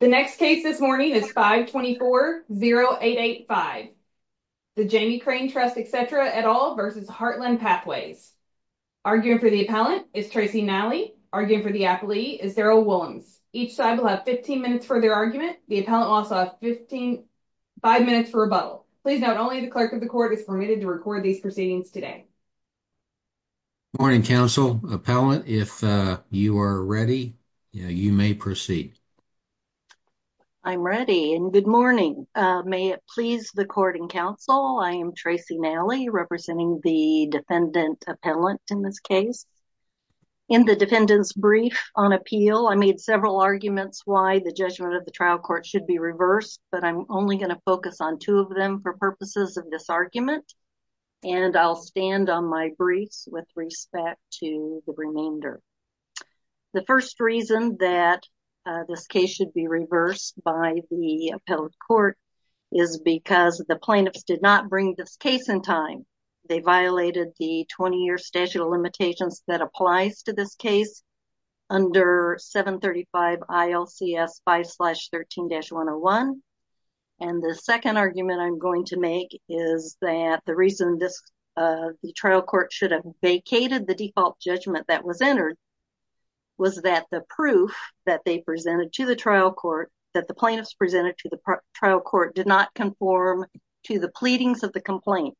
The next case this morning is 524-0885. The Jamie Crane Trust, etc. et al. v. Heartland Pathways. Arguing for the appellant is Tracy Nally. Arguing for the appellee is Daryl Willems. Each side will have 15 minutes for their argument. The appellant will also have five minutes for rebuttal. Please note only the clerk of the court is permitted to record these proceedings today. Morning, counsel, appellant. If you are ready, you may proceed. I'm ready, and good morning. May it please the court and counsel, I am Tracy Nally, representing the defendant appellant in this case. In the defendant's brief on appeal, I made several arguments why the judgment of the trial court should be reversed, but I'm only going to focus on two of them for purposes of this argument, and I'll stand on my briefs with respect to the remainder. The first reason that this case should be reversed by the appellate court is because the plaintiffs did not bring this case in time. They violated the 20-year statute of limitations that applies to this case under 735 ILCS 5-13-101, and the second argument I'm going to make is that the reason this trial court should have vacated the default judgment that was entered was that the proof that they presented to the trial court, that the plaintiffs presented to the trial court did not conform to the pleadings of the complaint.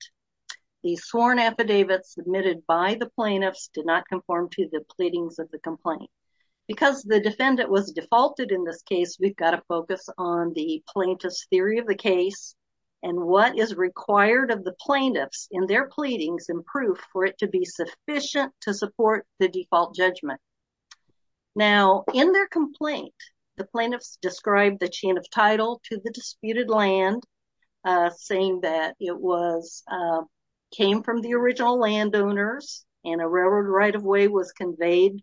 The sworn affidavit submitted by the plaintiffs did not conform to the pleadings of the complaint. Because the defendant was defaulted in this case, we've got to focus on the plaintiff's theory of the case and what is required of the plaintiffs in their pleadings and proof for it to be sufficient to support the default judgment. Now, in their complaint, the plaintiffs described the chain of title to the disputed land, saying that it came from the original landowners and a railroad right-of-way was conveyed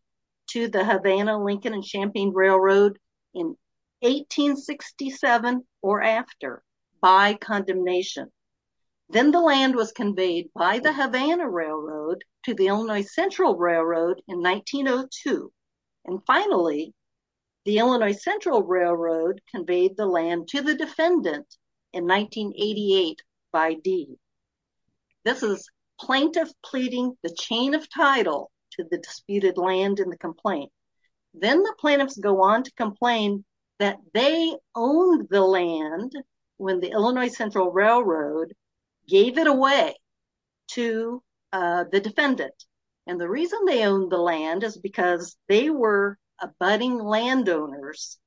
to the Havana, Lincoln, and Champaign Railroad in 1867 or after by condemnation. Then the land was conveyed by the Havana Railroad to the Illinois Central Railroad in 1902. And finally, the Illinois Central Railroad conveyed the land to the defendant in 1988 by deed. This is plaintiffs pleading the chain of title to the disputed land in the complaint. Then the go on to complain that they owned the land when the Illinois Central Railroad gave it away to the defendant. And the reason they owned the land is because they were abutting landowners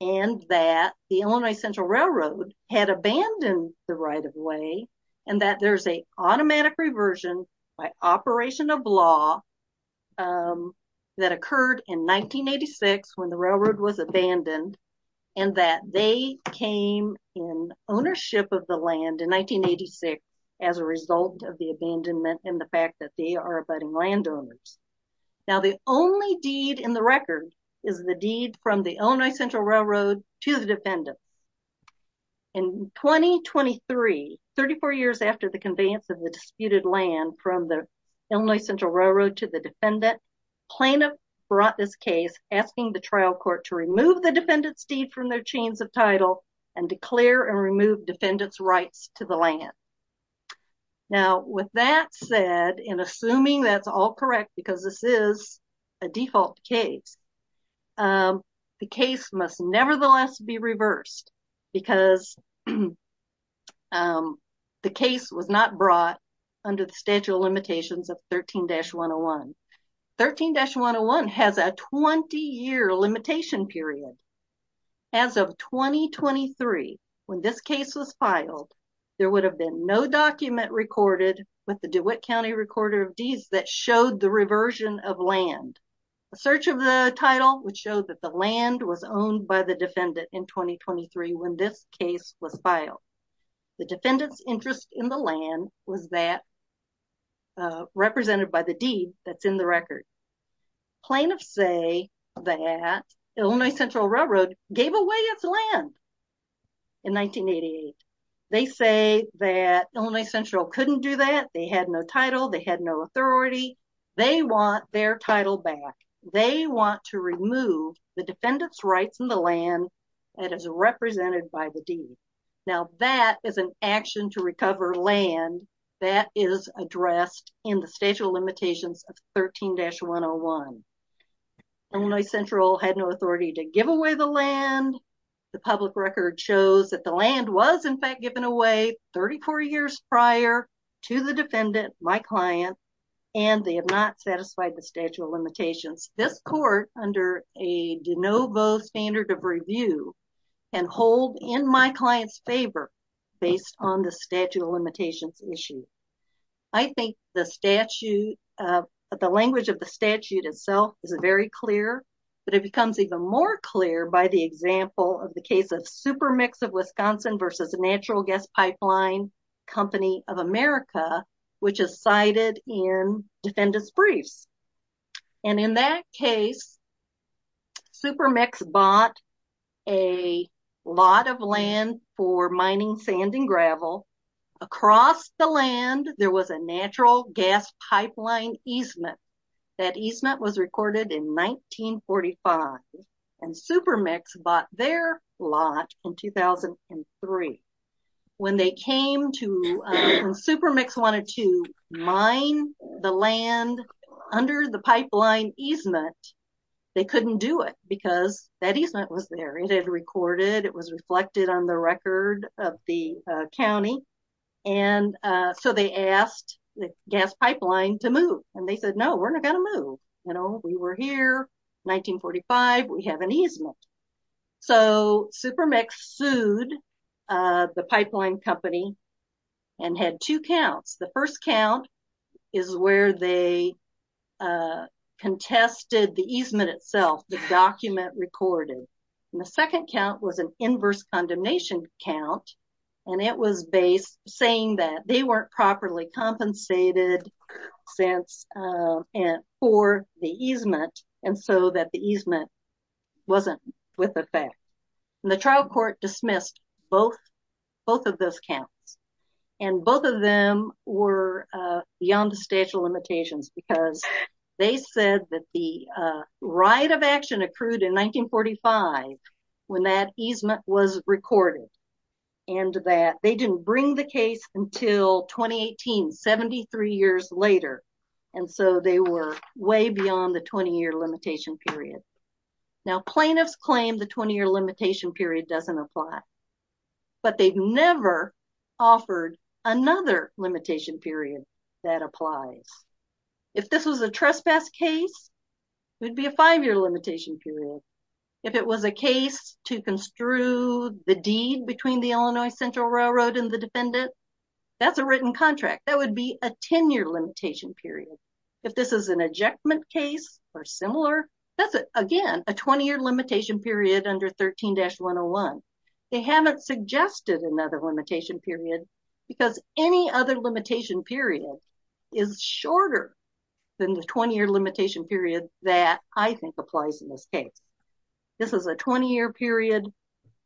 and that the Illinois Central Railroad had abandoned the right-of-way and that there's automatic reversion by operation of law that occurred in 1986 when the railroad was abandoned and that they came in ownership of the land in 1986 as a result of the abandonment and the fact that they are abutting landowners. Now, the only deed in the record is the deed from the Illinois Central Railroad to the defendant. In 2023, 34 years after the conveyance of the disputed land from the Illinois Central Railroad to the defendant, plaintiff brought this case asking the trial court to remove the defendant's deed from their chains of title and declare and remove defendant's rights to the land. Now, with that said, and assuming that's all correct because this is a default case, the case must nevertheless be reversed because the case was not brought under the statute of limitations of 13-101. 13-101 has a 20-year limitation period. As of 2023, when this case was filed, there would have been no document recorded with the DeWitt County Recorder of Deeds that showed the reversion of land. A search of the title would show that the land was owned by the defendant in 2023 when this case was filed. The defendant's interest in the land was that represented by the deed that's in the record. Plaintiffs say that Illinois Central Railroad gave away its land in 1988. They say that Illinois Central couldn't do that. They had no title. They had no authority. They want their title back. They want to remove the defendant's rights in the land that is represented by the deed. Now, that is an action to recover land that is addressed in the statute of limitations of 13-101. Illinois Central had no authority to give away the land. The public record shows that the land was, in fact, given away 34 years prior to the defendant, my client, and they have not satisfied the statute of limitations. This court, under a de novo standard of review, can hold in my client's favor based on the statute of limitations issue. I think the language of the statute itself is very clear, but it becomes even more clear by the example of the case of Supermix of Wisconsin versus Natural Gas Pipeline Company of America, which is cited in defendant's briefs. And in that case, Supermix bought a lot of land for mining sand and gravel. Across the land, there was a natural gas pipeline easement. That easement was recorded in 1945, and Supermix bought their lot in 2003. When Supermix wanted to mine the land under the pipeline easement, they couldn't do it because that easement was there. It had recorded, it was reflected on the record of the county, and so they asked the gas pipeline to move, and they said, no, we're not going to move. We were here, 1945, we have an easement. So Supermix sued the pipeline company and had two counts. The first count is where they contested the easement itself, the document recorded. And the second count was an inverse and for the easement, and so that the easement wasn't with effect. And the trial court dismissed both of those counts. And both of them were beyond the statute of limitations because they said that the right of action accrued in 1945 when that easement was recorded, and that they didn't bring the case until 2018, 73 years later, and so they were way beyond the 20-year limitation period. Now plaintiffs claim the 20-year limitation period doesn't apply, but they've never offered another limitation period that applies. If this was a trespass case, it would be a five-year limitation period. If it was a case to construe the deed between the Illinois Central Railroad and the defendant, that's a written contract. That would be a 10-year limitation period. If this is an ejectment case or similar, that's, again, a 20-year limitation period under 13-101. They haven't suggested another limitation period because any other limitation period is shorter than the 20-year limitation period that I think applies in this case. This is a 20-year period.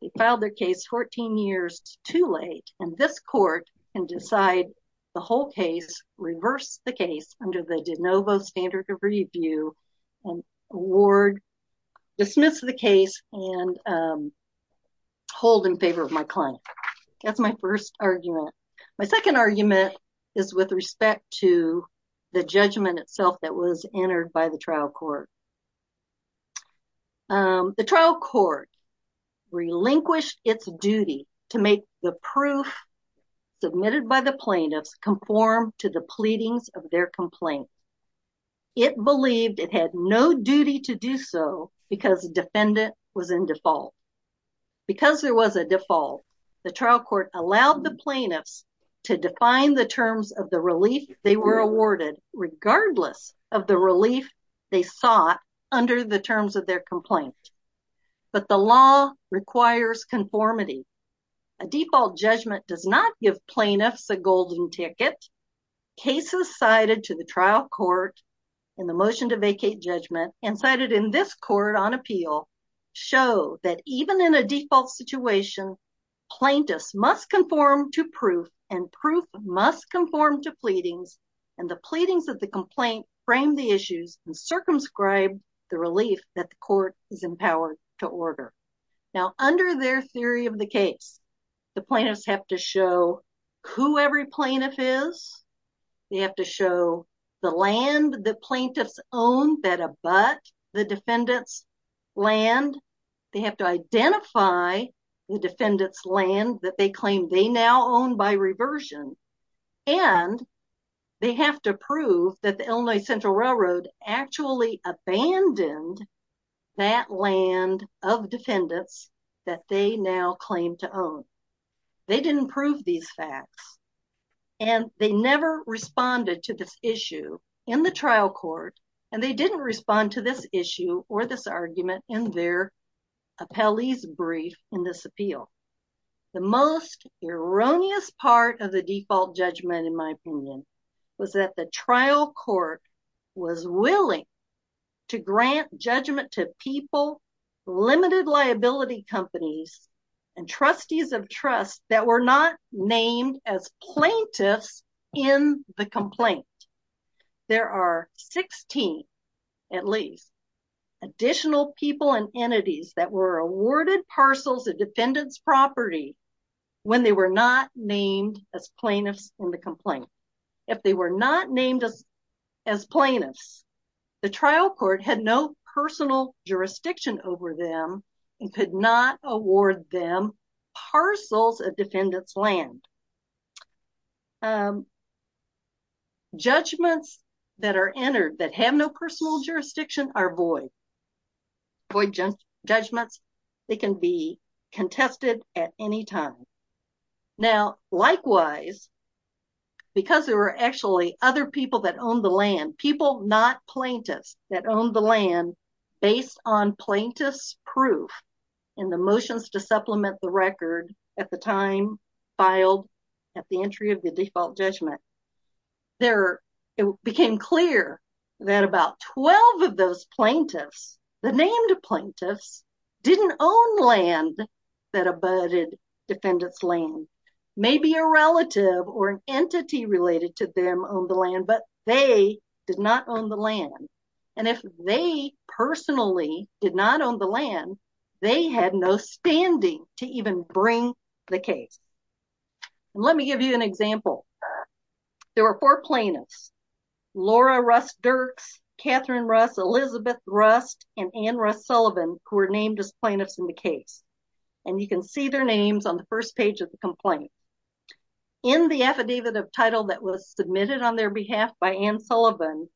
They filed their case 14 years too late, and this court can decide the whole case, reverse the case under the de novo standard of review, award, dismiss the case, and hold in favor of my client. That's my first argument. My second argument is with respect to the judgment itself that was entered by the trial court. The trial court relinquished its duty to make the proof submitted by the plaintiffs conform to the pleadings of their complaint. It believed it had no duty to do so because defendant was in default. Because there was a default, the trial court allowed the plaintiffs to define the terms of the relief they were awarded regardless of the relief they sought under the terms of their complaint. But the law requires conformity. A default judgment does not give plaintiffs a golden ticket. Cases cited to the trial court in the motion to vacate judgment and cited in this court on appeal show that even in a default situation, plaintiffs must conform to proof, and proof must conform to pleadings, and the pleadings of the complaint frame the issues and circumscribe the relief that the court is empowered to order. Now under their theory of case, the plaintiffs have to show who every plaintiff is, they have to show the land the plaintiffs own that abut the defendant's land, they have to identify the defendant's land that they claim they now own by reversion, and they have to prove that the Illinois Central Railroad actually abandoned that land of defendants that they now claim to own. They didn't prove these facts, and they never responded to this issue in the trial court, and they didn't respond to this issue or this argument in their appellee's brief in this appeal. The most erroneous part of the to grant judgment to people, limited liability companies, and trustees of trust that were not named as plaintiffs in the complaint. There are 16, at least, additional people and entities that were awarded parcels of defendant's property when they were not named as plaintiffs in the complaint. If they were not named as plaintiffs, the trial court had no personal jurisdiction over them and could not award them parcels of defendant's land. Judgments that are entered that have no personal jurisdiction are void. Void judgments, they can be contested at any time. Now, likewise, because there were actually other people that owned the land, people not plaintiffs that owned the land based on plaintiff's proof and the motions to supplement the record at the time filed at the entry of the default judgment, it became clear that about 12 of those plaintiffs, the named plaintiffs, didn't own land that abutted defendant's land. Maybe a relative or an entity related to them owned the land, but they did not own the land. And if they personally did not own the land, they had no standing to even bring the case. Let me give you an example. There were four plaintiffs, Laura Russ Dirks, Catherine Russ, Elizabeth Russ, and Ann Russ Sullivan, who were named as plaintiffs in the case. And you can see their names on the first page of the complaint. In the affidavit of title that was submitted on their behalf by Ann Sullivan,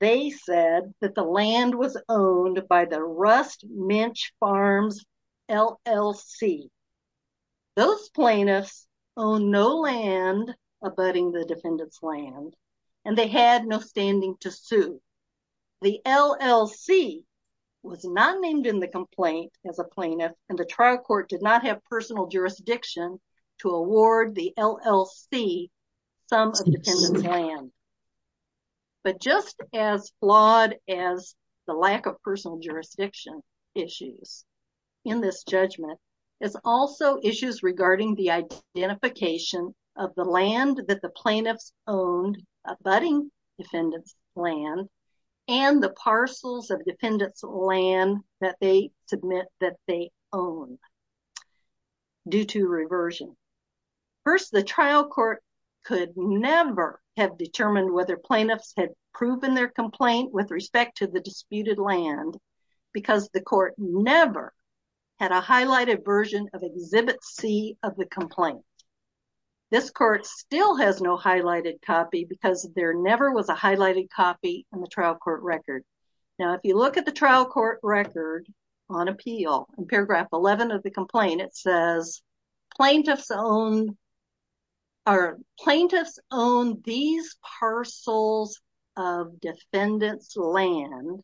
they said that the land was owned by the Rust Minch Farms LLC. Those plaintiffs owned no land abutting the defendant's land, and they had no standing to sue. The LLC was not named in the complaint as a plaintiff, and the trial court did not have personal jurisdiction to award the LLC some of the defendant's land. But just as flawed as the lack of personal jurisdiction issues in this judgment is also issues regarding the identification of the land that the plaintiffs owned abutting defendant's land and the parcels of defendant's land that they submit that they own due to reversion. First, the trial court could never have determined whether plaintiffs had proven their complaint with respect to the disputed land because the court never had a highlighted version of Exhibit C of the complaint. This court still has no highlighted copy because there never was a highlighted copy in the trial court record. Now, if you look at the trial court record on appeal in Paragraph 11 of the complaint, it says plaintiffs owned these parcels of defendant's land.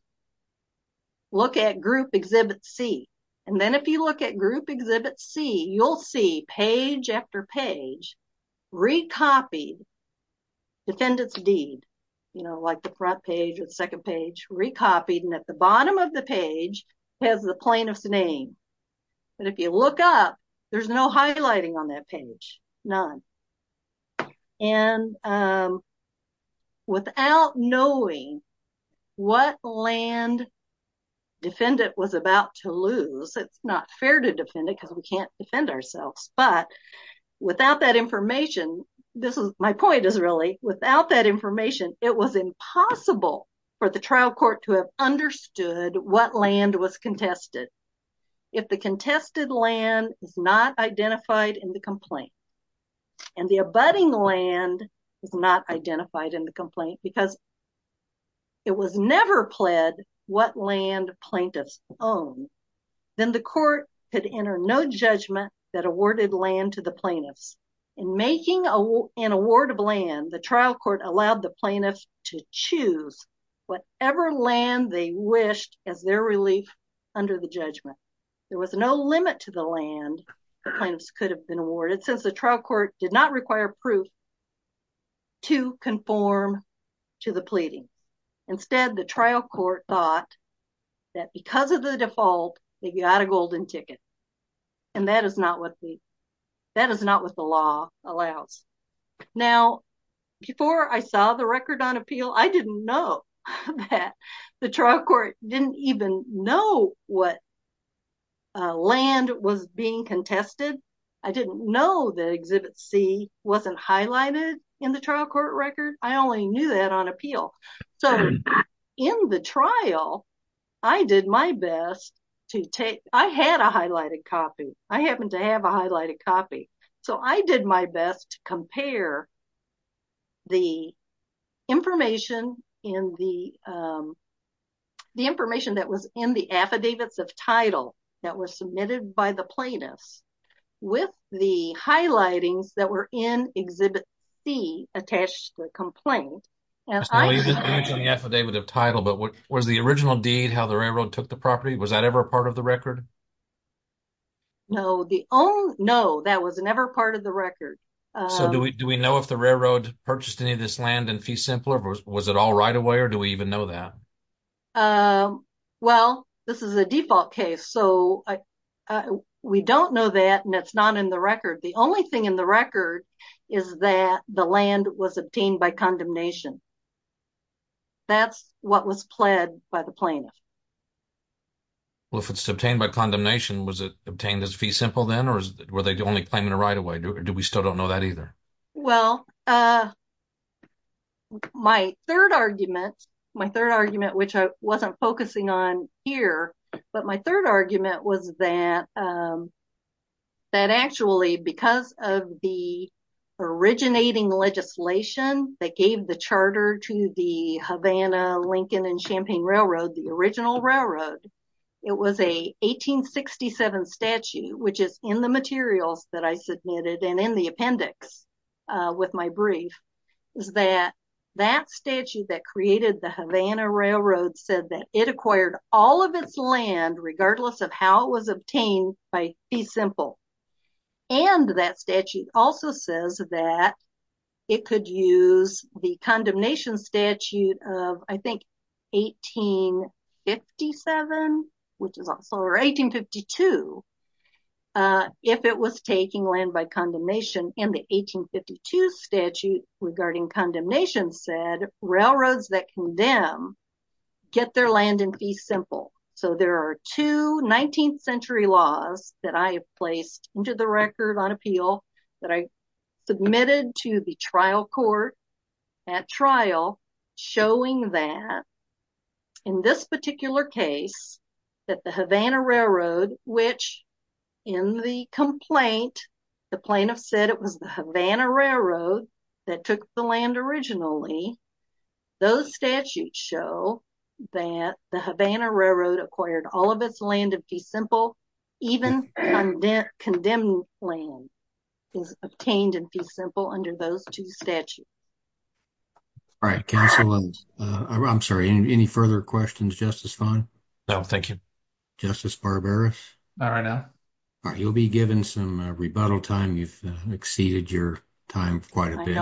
Look at Group Exhibit C, and then if you look at Group Exhibit C, you'll see page after page recopied defendant's deed, you know, like the front page or the second page recopied and at the bottom of the page has the plaintiff's name. But if you look up, there's no highlighting on that page, none. And without knowing what land defendant was about to lose, it's not fair to defend it because we can't defend ourselves. But without that information, this is my point is really without that information, it was impossible for the trial court to have understood what land was contested. If the contested land is not identified in the complaint and the abutting land is not identified in the complaint because it was never pled what land plaintiffs own, then the court could enter no judgment that awarded land to the plaintiffs. In making an award of land, the trial court allowed the plaintiffs to choose whatever land they wished as their relief under the judgment. There was no limit to the land the plaintiffs could have been awarded since the trial court did not require proof to conform to the pleading. Instead, the trial court thought that because of the default, they got a golden ticket. And that is not what the law allows. Now, before I saw the record on appeal, I didn't know that the trial court didn't even know what land was being contested. I didn't know that Exhibit C wasn't highlighted in the trial court record. I only knew that on appeal. So, in the trial, I did my best to take, I had a highlighted copy. I happen to have a highlighted copy. So, I did my best to compare the information that was in the affidavits of title that was submitted by the plaintiffs with the highlightings that were in Exhibit C attached to the complaint. And I believe that the affidavit of title, but what was the original deed, how the railroad took the property? Was that ever a part of the record? No, the only, no, that was never part of the record. So, do we know if the railroad purchased any of this land in fee simpler? Was it all right away or do we even know that? Well, this is a default case. So, we don't know that and it's not in the record. The only thing in the record is that the land was obtained by condemnation. That's what was pled by the plaintiff. Well, if it's obtained by condemnation, was it obtained as fee simple then or were they only claiming it right away? Do we still don't know that either? Well, my third argument, my third argument, which I wasn't focusing on here, but my third argument was that actually because of the originating legislation that gave the charter to the Havana Lincoln and Champaign Railroad, the original railroad, it was a 1867 statue, which is in the materials that I submitted and in the appendix with my brief, is that that statue that created the Havana Railroad said that it acquired all of its land regardless of how it was obtained by fee simple. And that statute also says that it could use the condemnation statute of, I think, 1857, which is also, or 1852, if it was taking land by condemnation. And the 1852 statute regarding condemnation said railroads that condemn get their land in fee simple. So, there are two 19th century laws that I have placed into the record on appeal that I submitted to the trial court at trial showing that in this particular case that the Havana Railroad, which in the complaint, the plaintiff said it was the Havana Railroad that took the land originally, those statutes show that the Havana Railroad acquired all of its land in fee simple, even condemned land is obtained in fee simple under those two statutes. All right, counsel, I'm sorry, any further questions, Justice Fung? No, thank you. Justice Barbaras? Not right now. You'll be given some rebuttal time. You've exceeded your time quite a bit.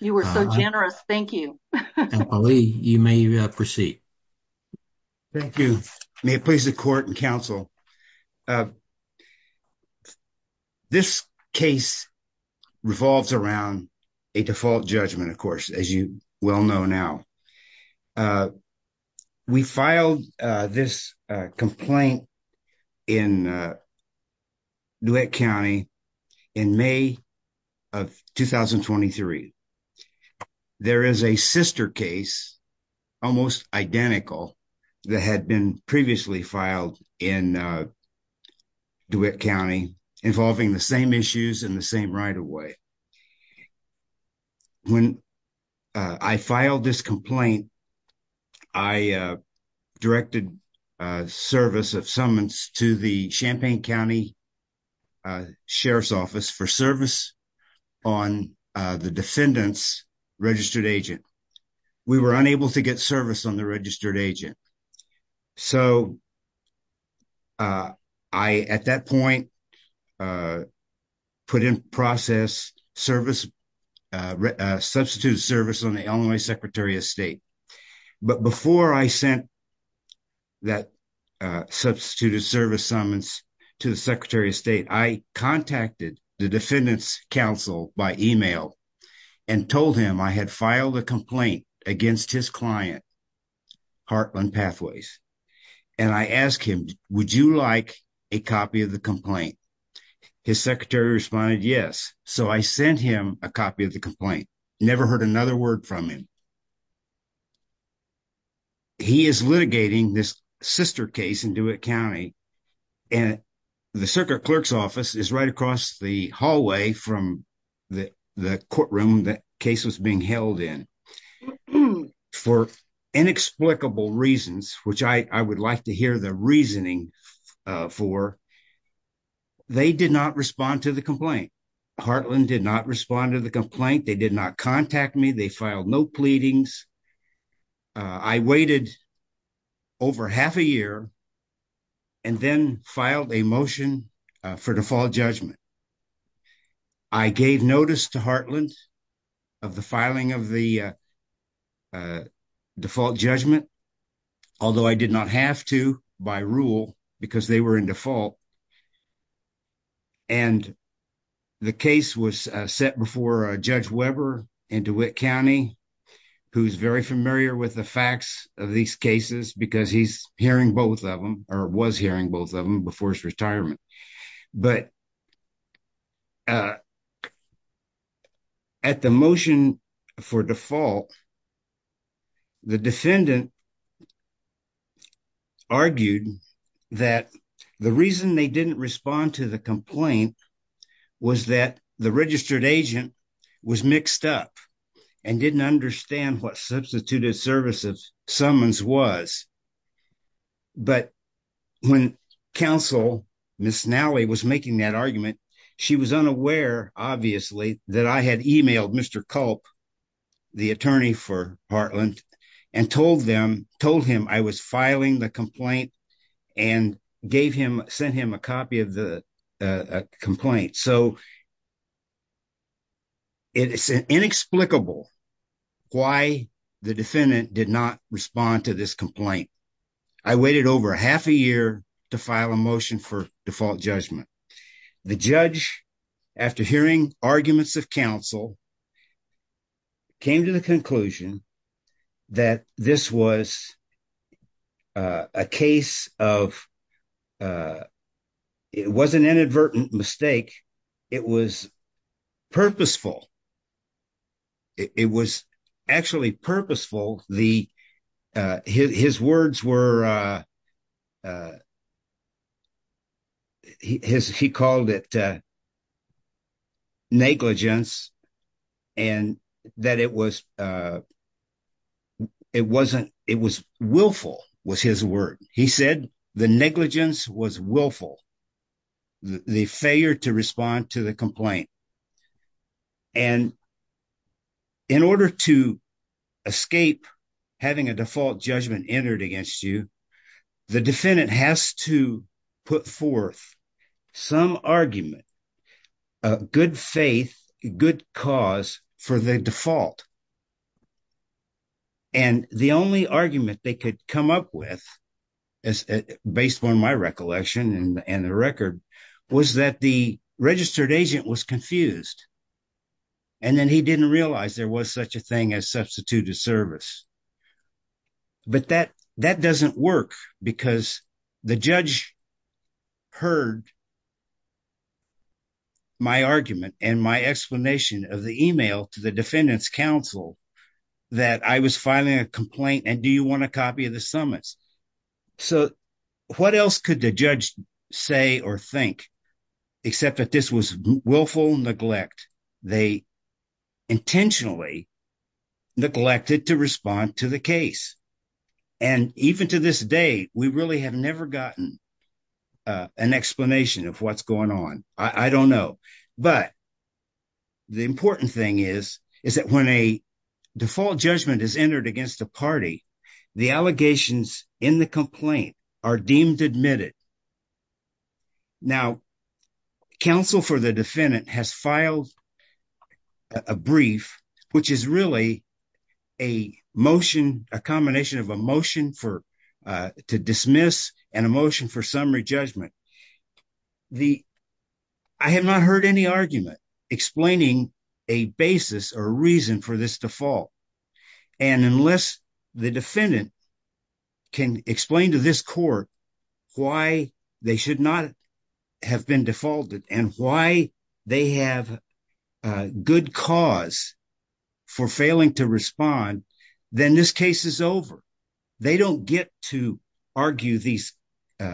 You were so generous. Thank you. You may proceed. Thank you. May it please the court and counsel. This case revolves around a default judgment, of course, as you well know now. We filed this complaint in DeWitt County in May of 2023. There is a sister case, almost identical, that had been previously filed in DeWitt County involving the same issues in the same right away. And when I filed this complaint, I directed service of summons to the Champaign County Sheriff's Office for service on the defendant's registered agent. We were unable to get service on the registered agent. So I, at that point, put in process substitute service on the Illinois Secretary of State. But before I sent that substituted service summons to the Secretary of State, I contacted the defendant's counsel by email and told him I had filed a complaint against his client, Heartland Pathways. And I asked him, would you like a copy of the complaint? His secretary responded, yes. So I sent him a copy of the complaint. Never heard another word from him. He is litigating this sister case in DeWitt County. And the circuit clerk's office is right across the hallway from the courtroom that case was being held in. For inexplicable reasons, which I would like to hear the reasoning for, they did not respond to the complaint. Heartland did not respond to the complaint. They did not contact me. They filed no pleadings. I waited over half a year and then filed a motion for default judgment. I gave notice to Heartland of the filing of the default judgment, although I did not have to by rule because they were in default. And the case was set before Judge Weber in DeWitt County, who's very familiar with the facts of these cases because he's hearing both of them or was hearing both of them before his retirement. But at the motion for default, the defendant argued that the reason they didn't respond to the complaint was that the registered agent was mixed up and didn't understand what substituted service of summons was. But when counsel Miss Nally was making that argument, she was unaware, obviously, that I had emailed Mr. Culp, the attorney for Heartland, and told him I was filing the complaint and sent him a copy of the complaint. So it's inexplicable why the defendant did not respond to this complaint. I waited over half a year to file a motion for default judgment. The judge, after hearing arguments of counsel, came to the conclusion that this was a case of, it was an inadvertent mistake. It was purposeful. It was actually purposeful. His words were, he called it negligence and that it was willful was his word. He said the negligence was willful, the failure to respond to the complaint. And in order to escape having a default judgment entered against you, the defendant has to put forth some argument, good faith, good cause for the default. And the only argument they could come up with, based on my recollection and the record, was that the registered agent was confused. And then he didn't realize there was such a thing as substituted service. But that doesn't work because the judge heard my argument and my explanation of the email to the defendant's counsel that I was filing a complaint and do you want a copy of the summons? So what else could the judge say or think except that this was willful neglect? They intentionally neglected to respond to the case. And even to this day, we really have never gotten an explanation of what's going on. I don't know. But the important thing is, is that when a default judgment is entered against a party, the allegations in the complaint are deemed admitted. Now, counsel for the defendant has filed a brief, which is really a motion, a combination of a motion to dismiss and a motion for summary judgment. I have not heard any argument explaining a basis or reason for this default. And unless the defendant can explain to this court why they should not have been defaulted and why they have a good cause for failing to respond, then this case is over. They don't get to argue these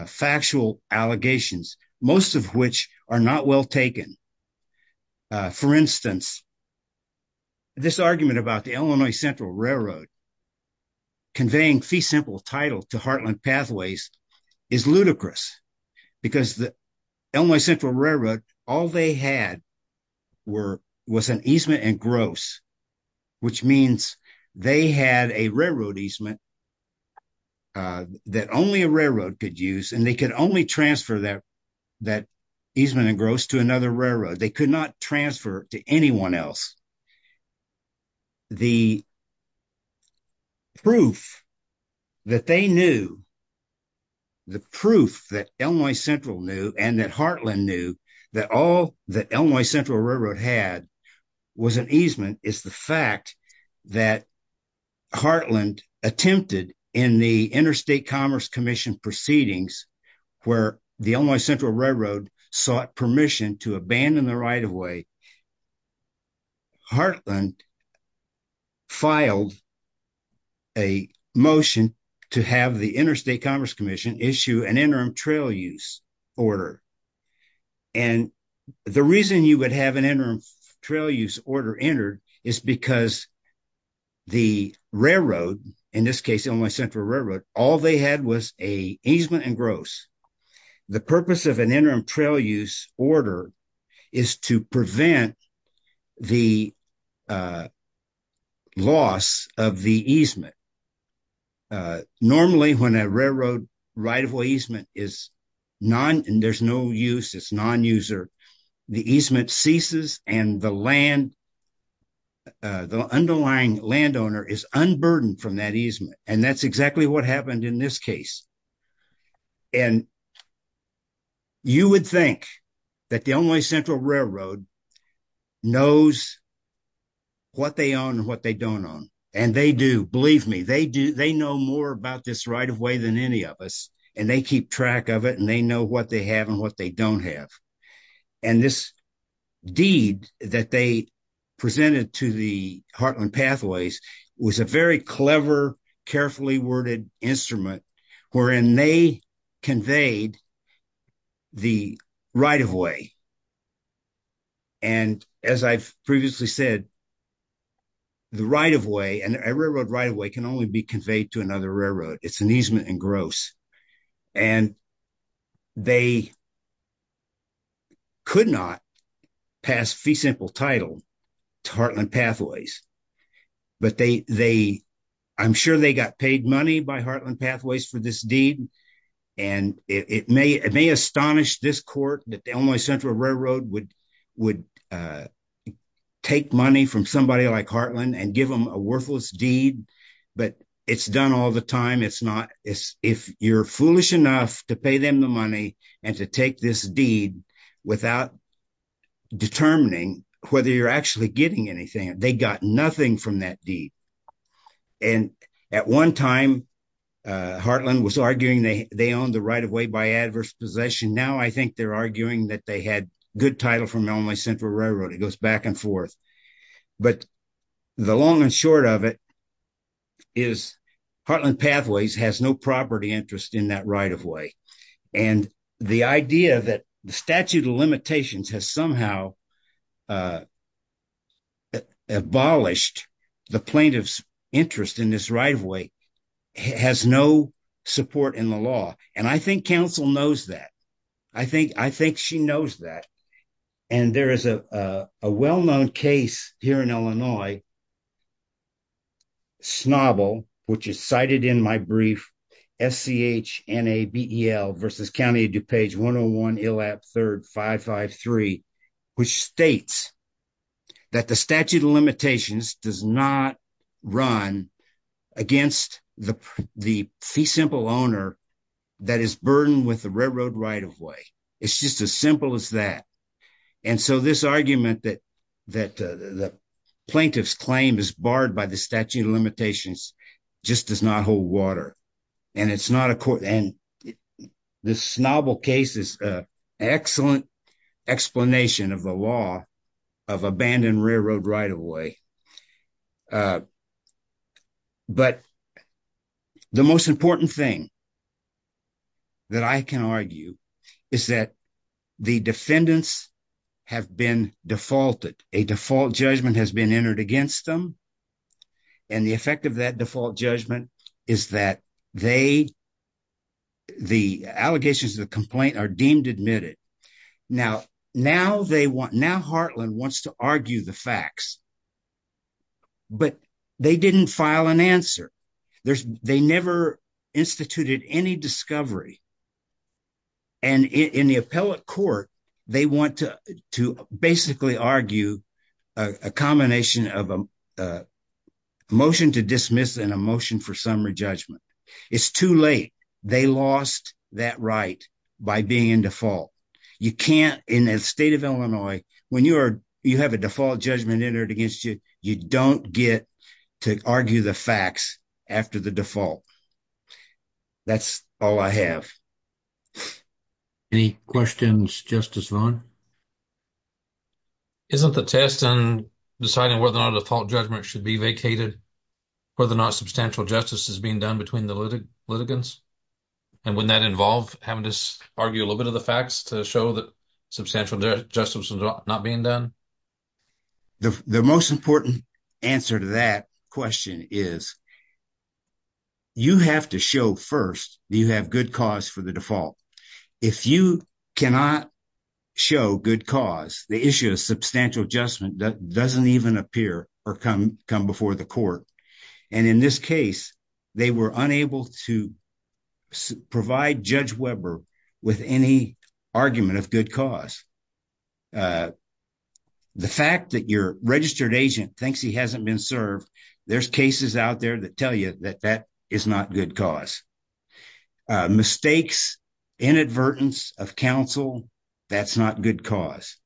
factual allegations, most of which are not well taken. For instance, this argument about the Illinois Central Railroad conveying fee simple title to Heartland Pathways is ludicrous because the Illinois Central Railroad, all they had was an easement and gross, which means they had a railroad easement that only a railroad could use, and they could only transfer that easement and gross to another railroad. They could not transfer to anyone else. The proof that they knew, the proof that Illinois Central knew and that Heartland knew that all that Illinois Central had was an easement is the fact that Heartland attempted in the Interstate Commerce Commission proceedings where the Illinois Central Railroad sought permission to abandon the right-of-way, Heartland filed a motion to have the Interstate Commerce Commission issue an interim trail use order. And the reason you would have an interim trail use order entered is because the railroad, in this case Illinois Central Railroad, all they had was a easement and gross. The purpose of an interim trail use order is to prevent the loss of the easement. Normally when a railroad right-of-way easement is non, and there's no use, it's non-user, the easement ceases and the land, the underlying landowner is unburdened from that easement, and that's exactly what happened in this case. And you would think that the Illinois Central Railroad knows what they own and what they don't own. And they do, believe me, they know more about this right-of-way than any of us and they keep track of it and they know what they have and what they don't have. And this deed that they presented to the Heartland Pathways was a very clever, carefully worded instrument wherein they conveyed the right-of-way. And as I've previously said, the right-of-way, a railroad right-of-way, can only be conveyed to another railroad. It's an easement and gross. And they could not pass fee simple title to Heartland Pathways, but they, I'm sure they got paid money by Heartland Pathways for this deed. And it may astonish this court that the Illinois Central Railroad would take money from somebody like Heartland and give them a worthless deed, but it's done all the time. It's not, if you're foolish enough to pay them the money, and to take this deed without determining whether you're actually getting anything, they got nothing from that deed. And at one time, Heartland was arguing they owned the right-of-way by adverse possession. Now I think they're arguing that they had good title from Illinois Central Railroad. It goes back and forth. But the long and short of it is Heartland Pathways has no property interest in that right-of-way. And the idea that the statute of limitations has somehow abolished the plaintiff's interest in this right-of-way has no support in the law. And I think counsel knows that. I think she knows that. And there is a well-known case here in Illinois, Snobble, which is cited in my brief, S-C-H-N-A-B-E-L versus County of DuPage 101 Illap 3rd 553, which states that the statute of limitations does not run against the fee simple owner that is burdened with the railroad right-of-way. It's just as simple as that. And so this argument that the plaintiff's claim is barred by the statute of limitations just does not hold water. And the Snobble case is an excellent explanation of the law of abandoned railroad right-of-way. But the most important thing that I can argue is that the defendants have been defaulted. A default judgment has been entered against them. And the effect of that default judgment is that the allegations of the complaint are deemed admitted. Now, Heartland wants to argue the facts, but they didn't file an answer. They never instituted any discovery. And in the appellate court, they want to basically argue a combination of a motion to dismiss and a motion for summary judgment. It's too late. They lost that right by being in default. You can't, in the state of Illinois, when you have a default judgment entered against you, you don't get to argue the facts after the default. That's all I have. Any questions, Justice Vaughn? Isn't the test in deciding whether or not a default judgment should be vacated, whether or not substantial justice is being done between the litigants? And wouldn't that involve having to argue a little bit of the facts to show that substantial justice is not being done? The most important answer to that question is you have to show first that you have good cause for the default. If you cannot show good cause, the issue of substantial adjustment doesn't even appear or come before the court. And in this case, they were unable to provide Judge Weber with any argument of good cause. The fact that your registered agent thinks he hasn't been served, there's cases out there that tell you that that is not good cause. Mistakes, inadvertence of counsel, that's not good cause.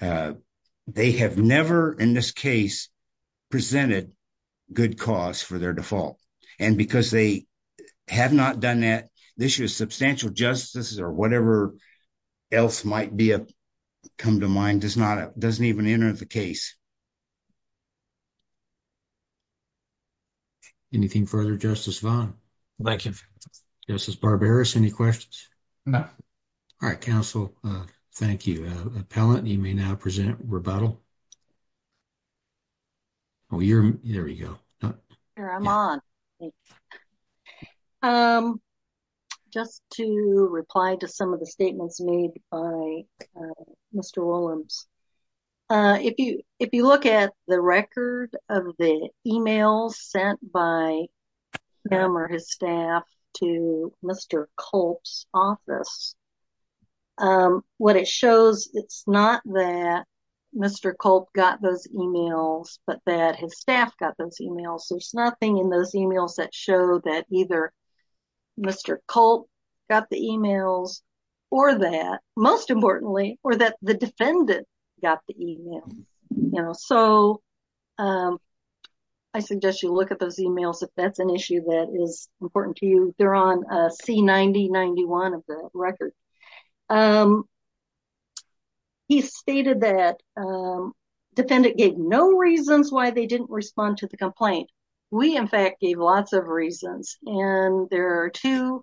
They have never, in this case, presented good cause for their default. And because they have not done that, the issue of substantial justice or whatever else might come to mind doesn't even enter the case. Anything further, Justice Vaughn? Thank you. Justice Barberis, any questions? No. All right, counsel. Thank you. Appellant, you may now present rebuttal. Oh, there you go. I'm on. Just to reply to some of the statements made by Mr. Willems. If you look at the record of the emails sent by him or his staff to Mr. Culp's office, what it shows, it's not that Mr. Culp got those emails, but that his staff got those emails. There's nothing in those emails that show that either Mr. Culp got the emails or that, most importantly, or that the defendant got the email. So I suggest you look at those emails if that's an issue that is important to you. They're on C90-91 of the record. He stated that defendant gave no reasons why they didn't respond to the complaint. We, in fact, gave lots of reasons, and there are two.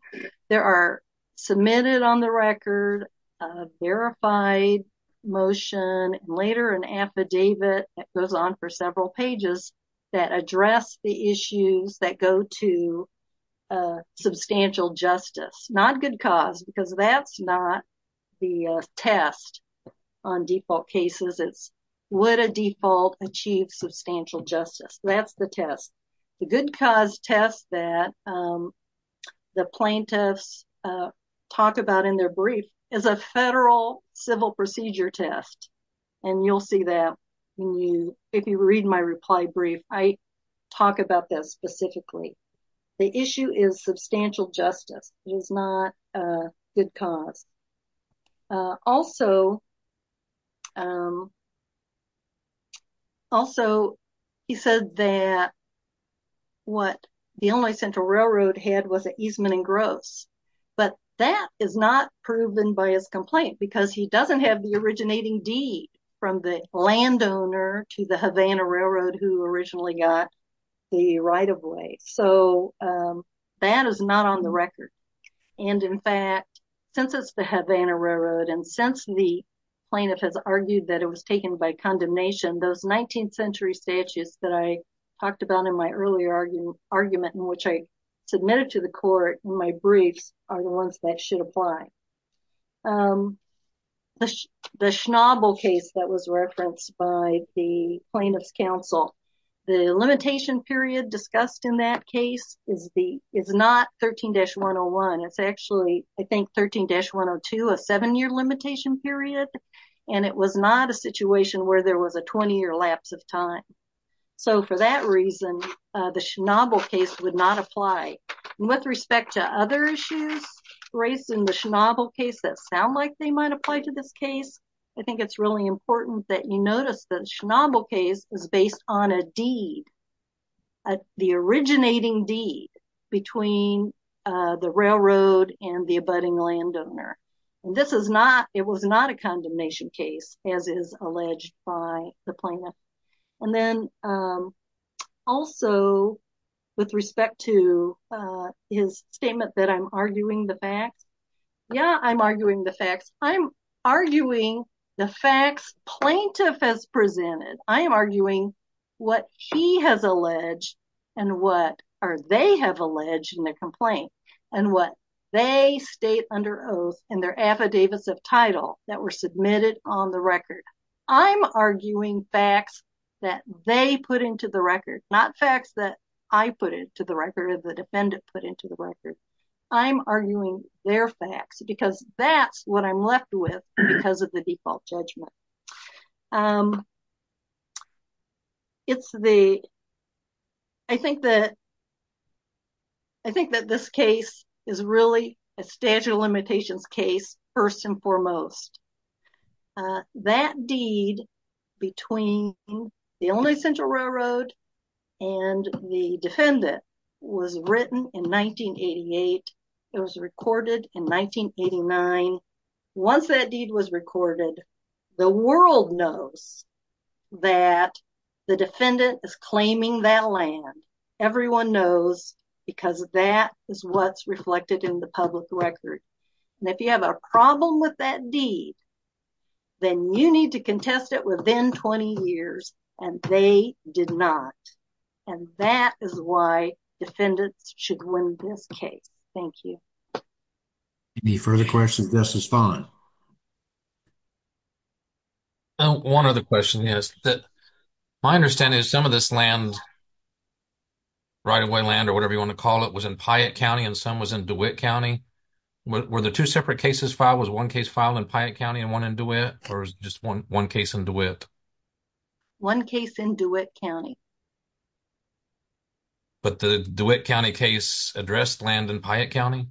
There are submitted on the record, a verified motion, and later an affidavit that goes on for several pages that address the issues that go to substantial justice. Not good cause, because that's not the test on default cases. It's would a default achieve substantial justice? That's the test. The good cause test that the plaintiffs talk about in their brief is a federal civil procedure test, and you'll see that when you, if you read my reply brief, I talk about this specifically. The issue is substantial justice. It is not a good cause. Also, he said that what the Illinois Central Railroad had was an easement in gross, but that is not proven by his complaint because he doesn't have the deed from the landowner to the Havana Railroad who originally got the right-of-way. So, that is not on the record, and, in fact, since it's the Havana Railroad and since the plaintiff has argued that it was taken by condemnation, those 19th century statutes that I talked about in my earlier argument in which I submitted to the court in my briefs are the ones that should apply. The Schnabel case that was referenced by the plaintiff's counsel, the limitation period discussed in that case is not 13-101. It's actually, I think, 13-102, a seven-year limitation period, and it was not a situation where there was a 20-year lapse of time. So, for that reason, the Schnabel case would not apply. With respect to other issues raised in the Schnabel case that sound like they might apply to this case, I think it's really important that you notice that the Schnabel case is based on a deed, the originating deed between the railroad and the abutting landowner, and this is not, it was not a condemnation case as is alleged by the plaintiff. And then, also, with respect to his statement that I'm arguing the facts, yeah, I'm arguing the facts. I'm arguing the facts plaintiff has presented. I am arguing what he has alleged and what they have alleged in the complaint and what they state under oath and their affidavits of title that were submitted on the record. I'm arguing facts that they put into the record, not facts that I put into the record or the defendant put into the record. I'm arguing their facts because that's what I'm left with because of the default judgment. It's the, I think that, I think that this case is really a statute of limitations case first and foremost. That deed between the Illinois Central Railroad and the defendant was written in 1988. It was recorded in 1989. Once that deed was recorded, the world knows that the defendant is claiming that land. Everyone knows because that is what's reflected in the public record. And if you have a problem with that deed, then you need to contest it within 20 years and they did not. And that is why defendants should win this case. Thank you. Any further questions? This is fine. One other question is that my understanding is some of this land, right away land or whatever you want to call it, was in Piatt County and some was in DeWitt County. Were the two separate cases filed? Was one case filed in Piatt County and one in DeWitt or just one case in DeWitt? One case in DeWitt County. But the DeWitt County case addressed land in Piatt County?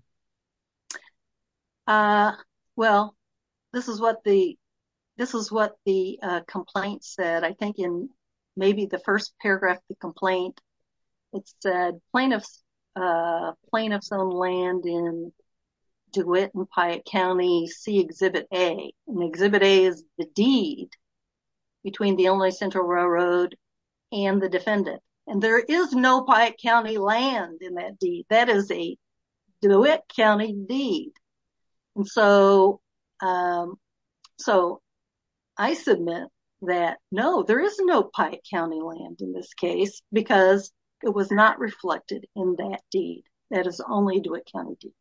Well, this is what the, this is what the complaint said. I think in maybe the first paragraph of the deed between the Illinois Central Railroad and the defendant. And there is no Piatt County land in that deed. That is a DeWitt County deed. And so, so I submit that no, there is no Piatt County land in this case because it was not reflected in that deed. That is only DeWitt County deed.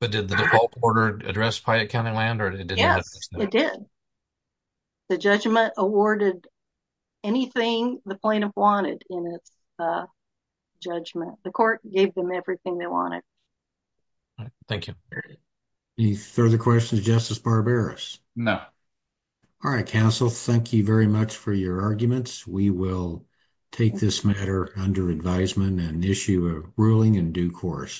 But did the default order address Piatt County land? Yes, it did. The judgment awarded anything the plaintiff wanted in its judgment. The court gave them everything they wanted. Thank you. Any further questions? Justice Barberis? No. All right, counsel, thank you very much for your arguments. We will take this matter under advisement and issue a ruling in due course.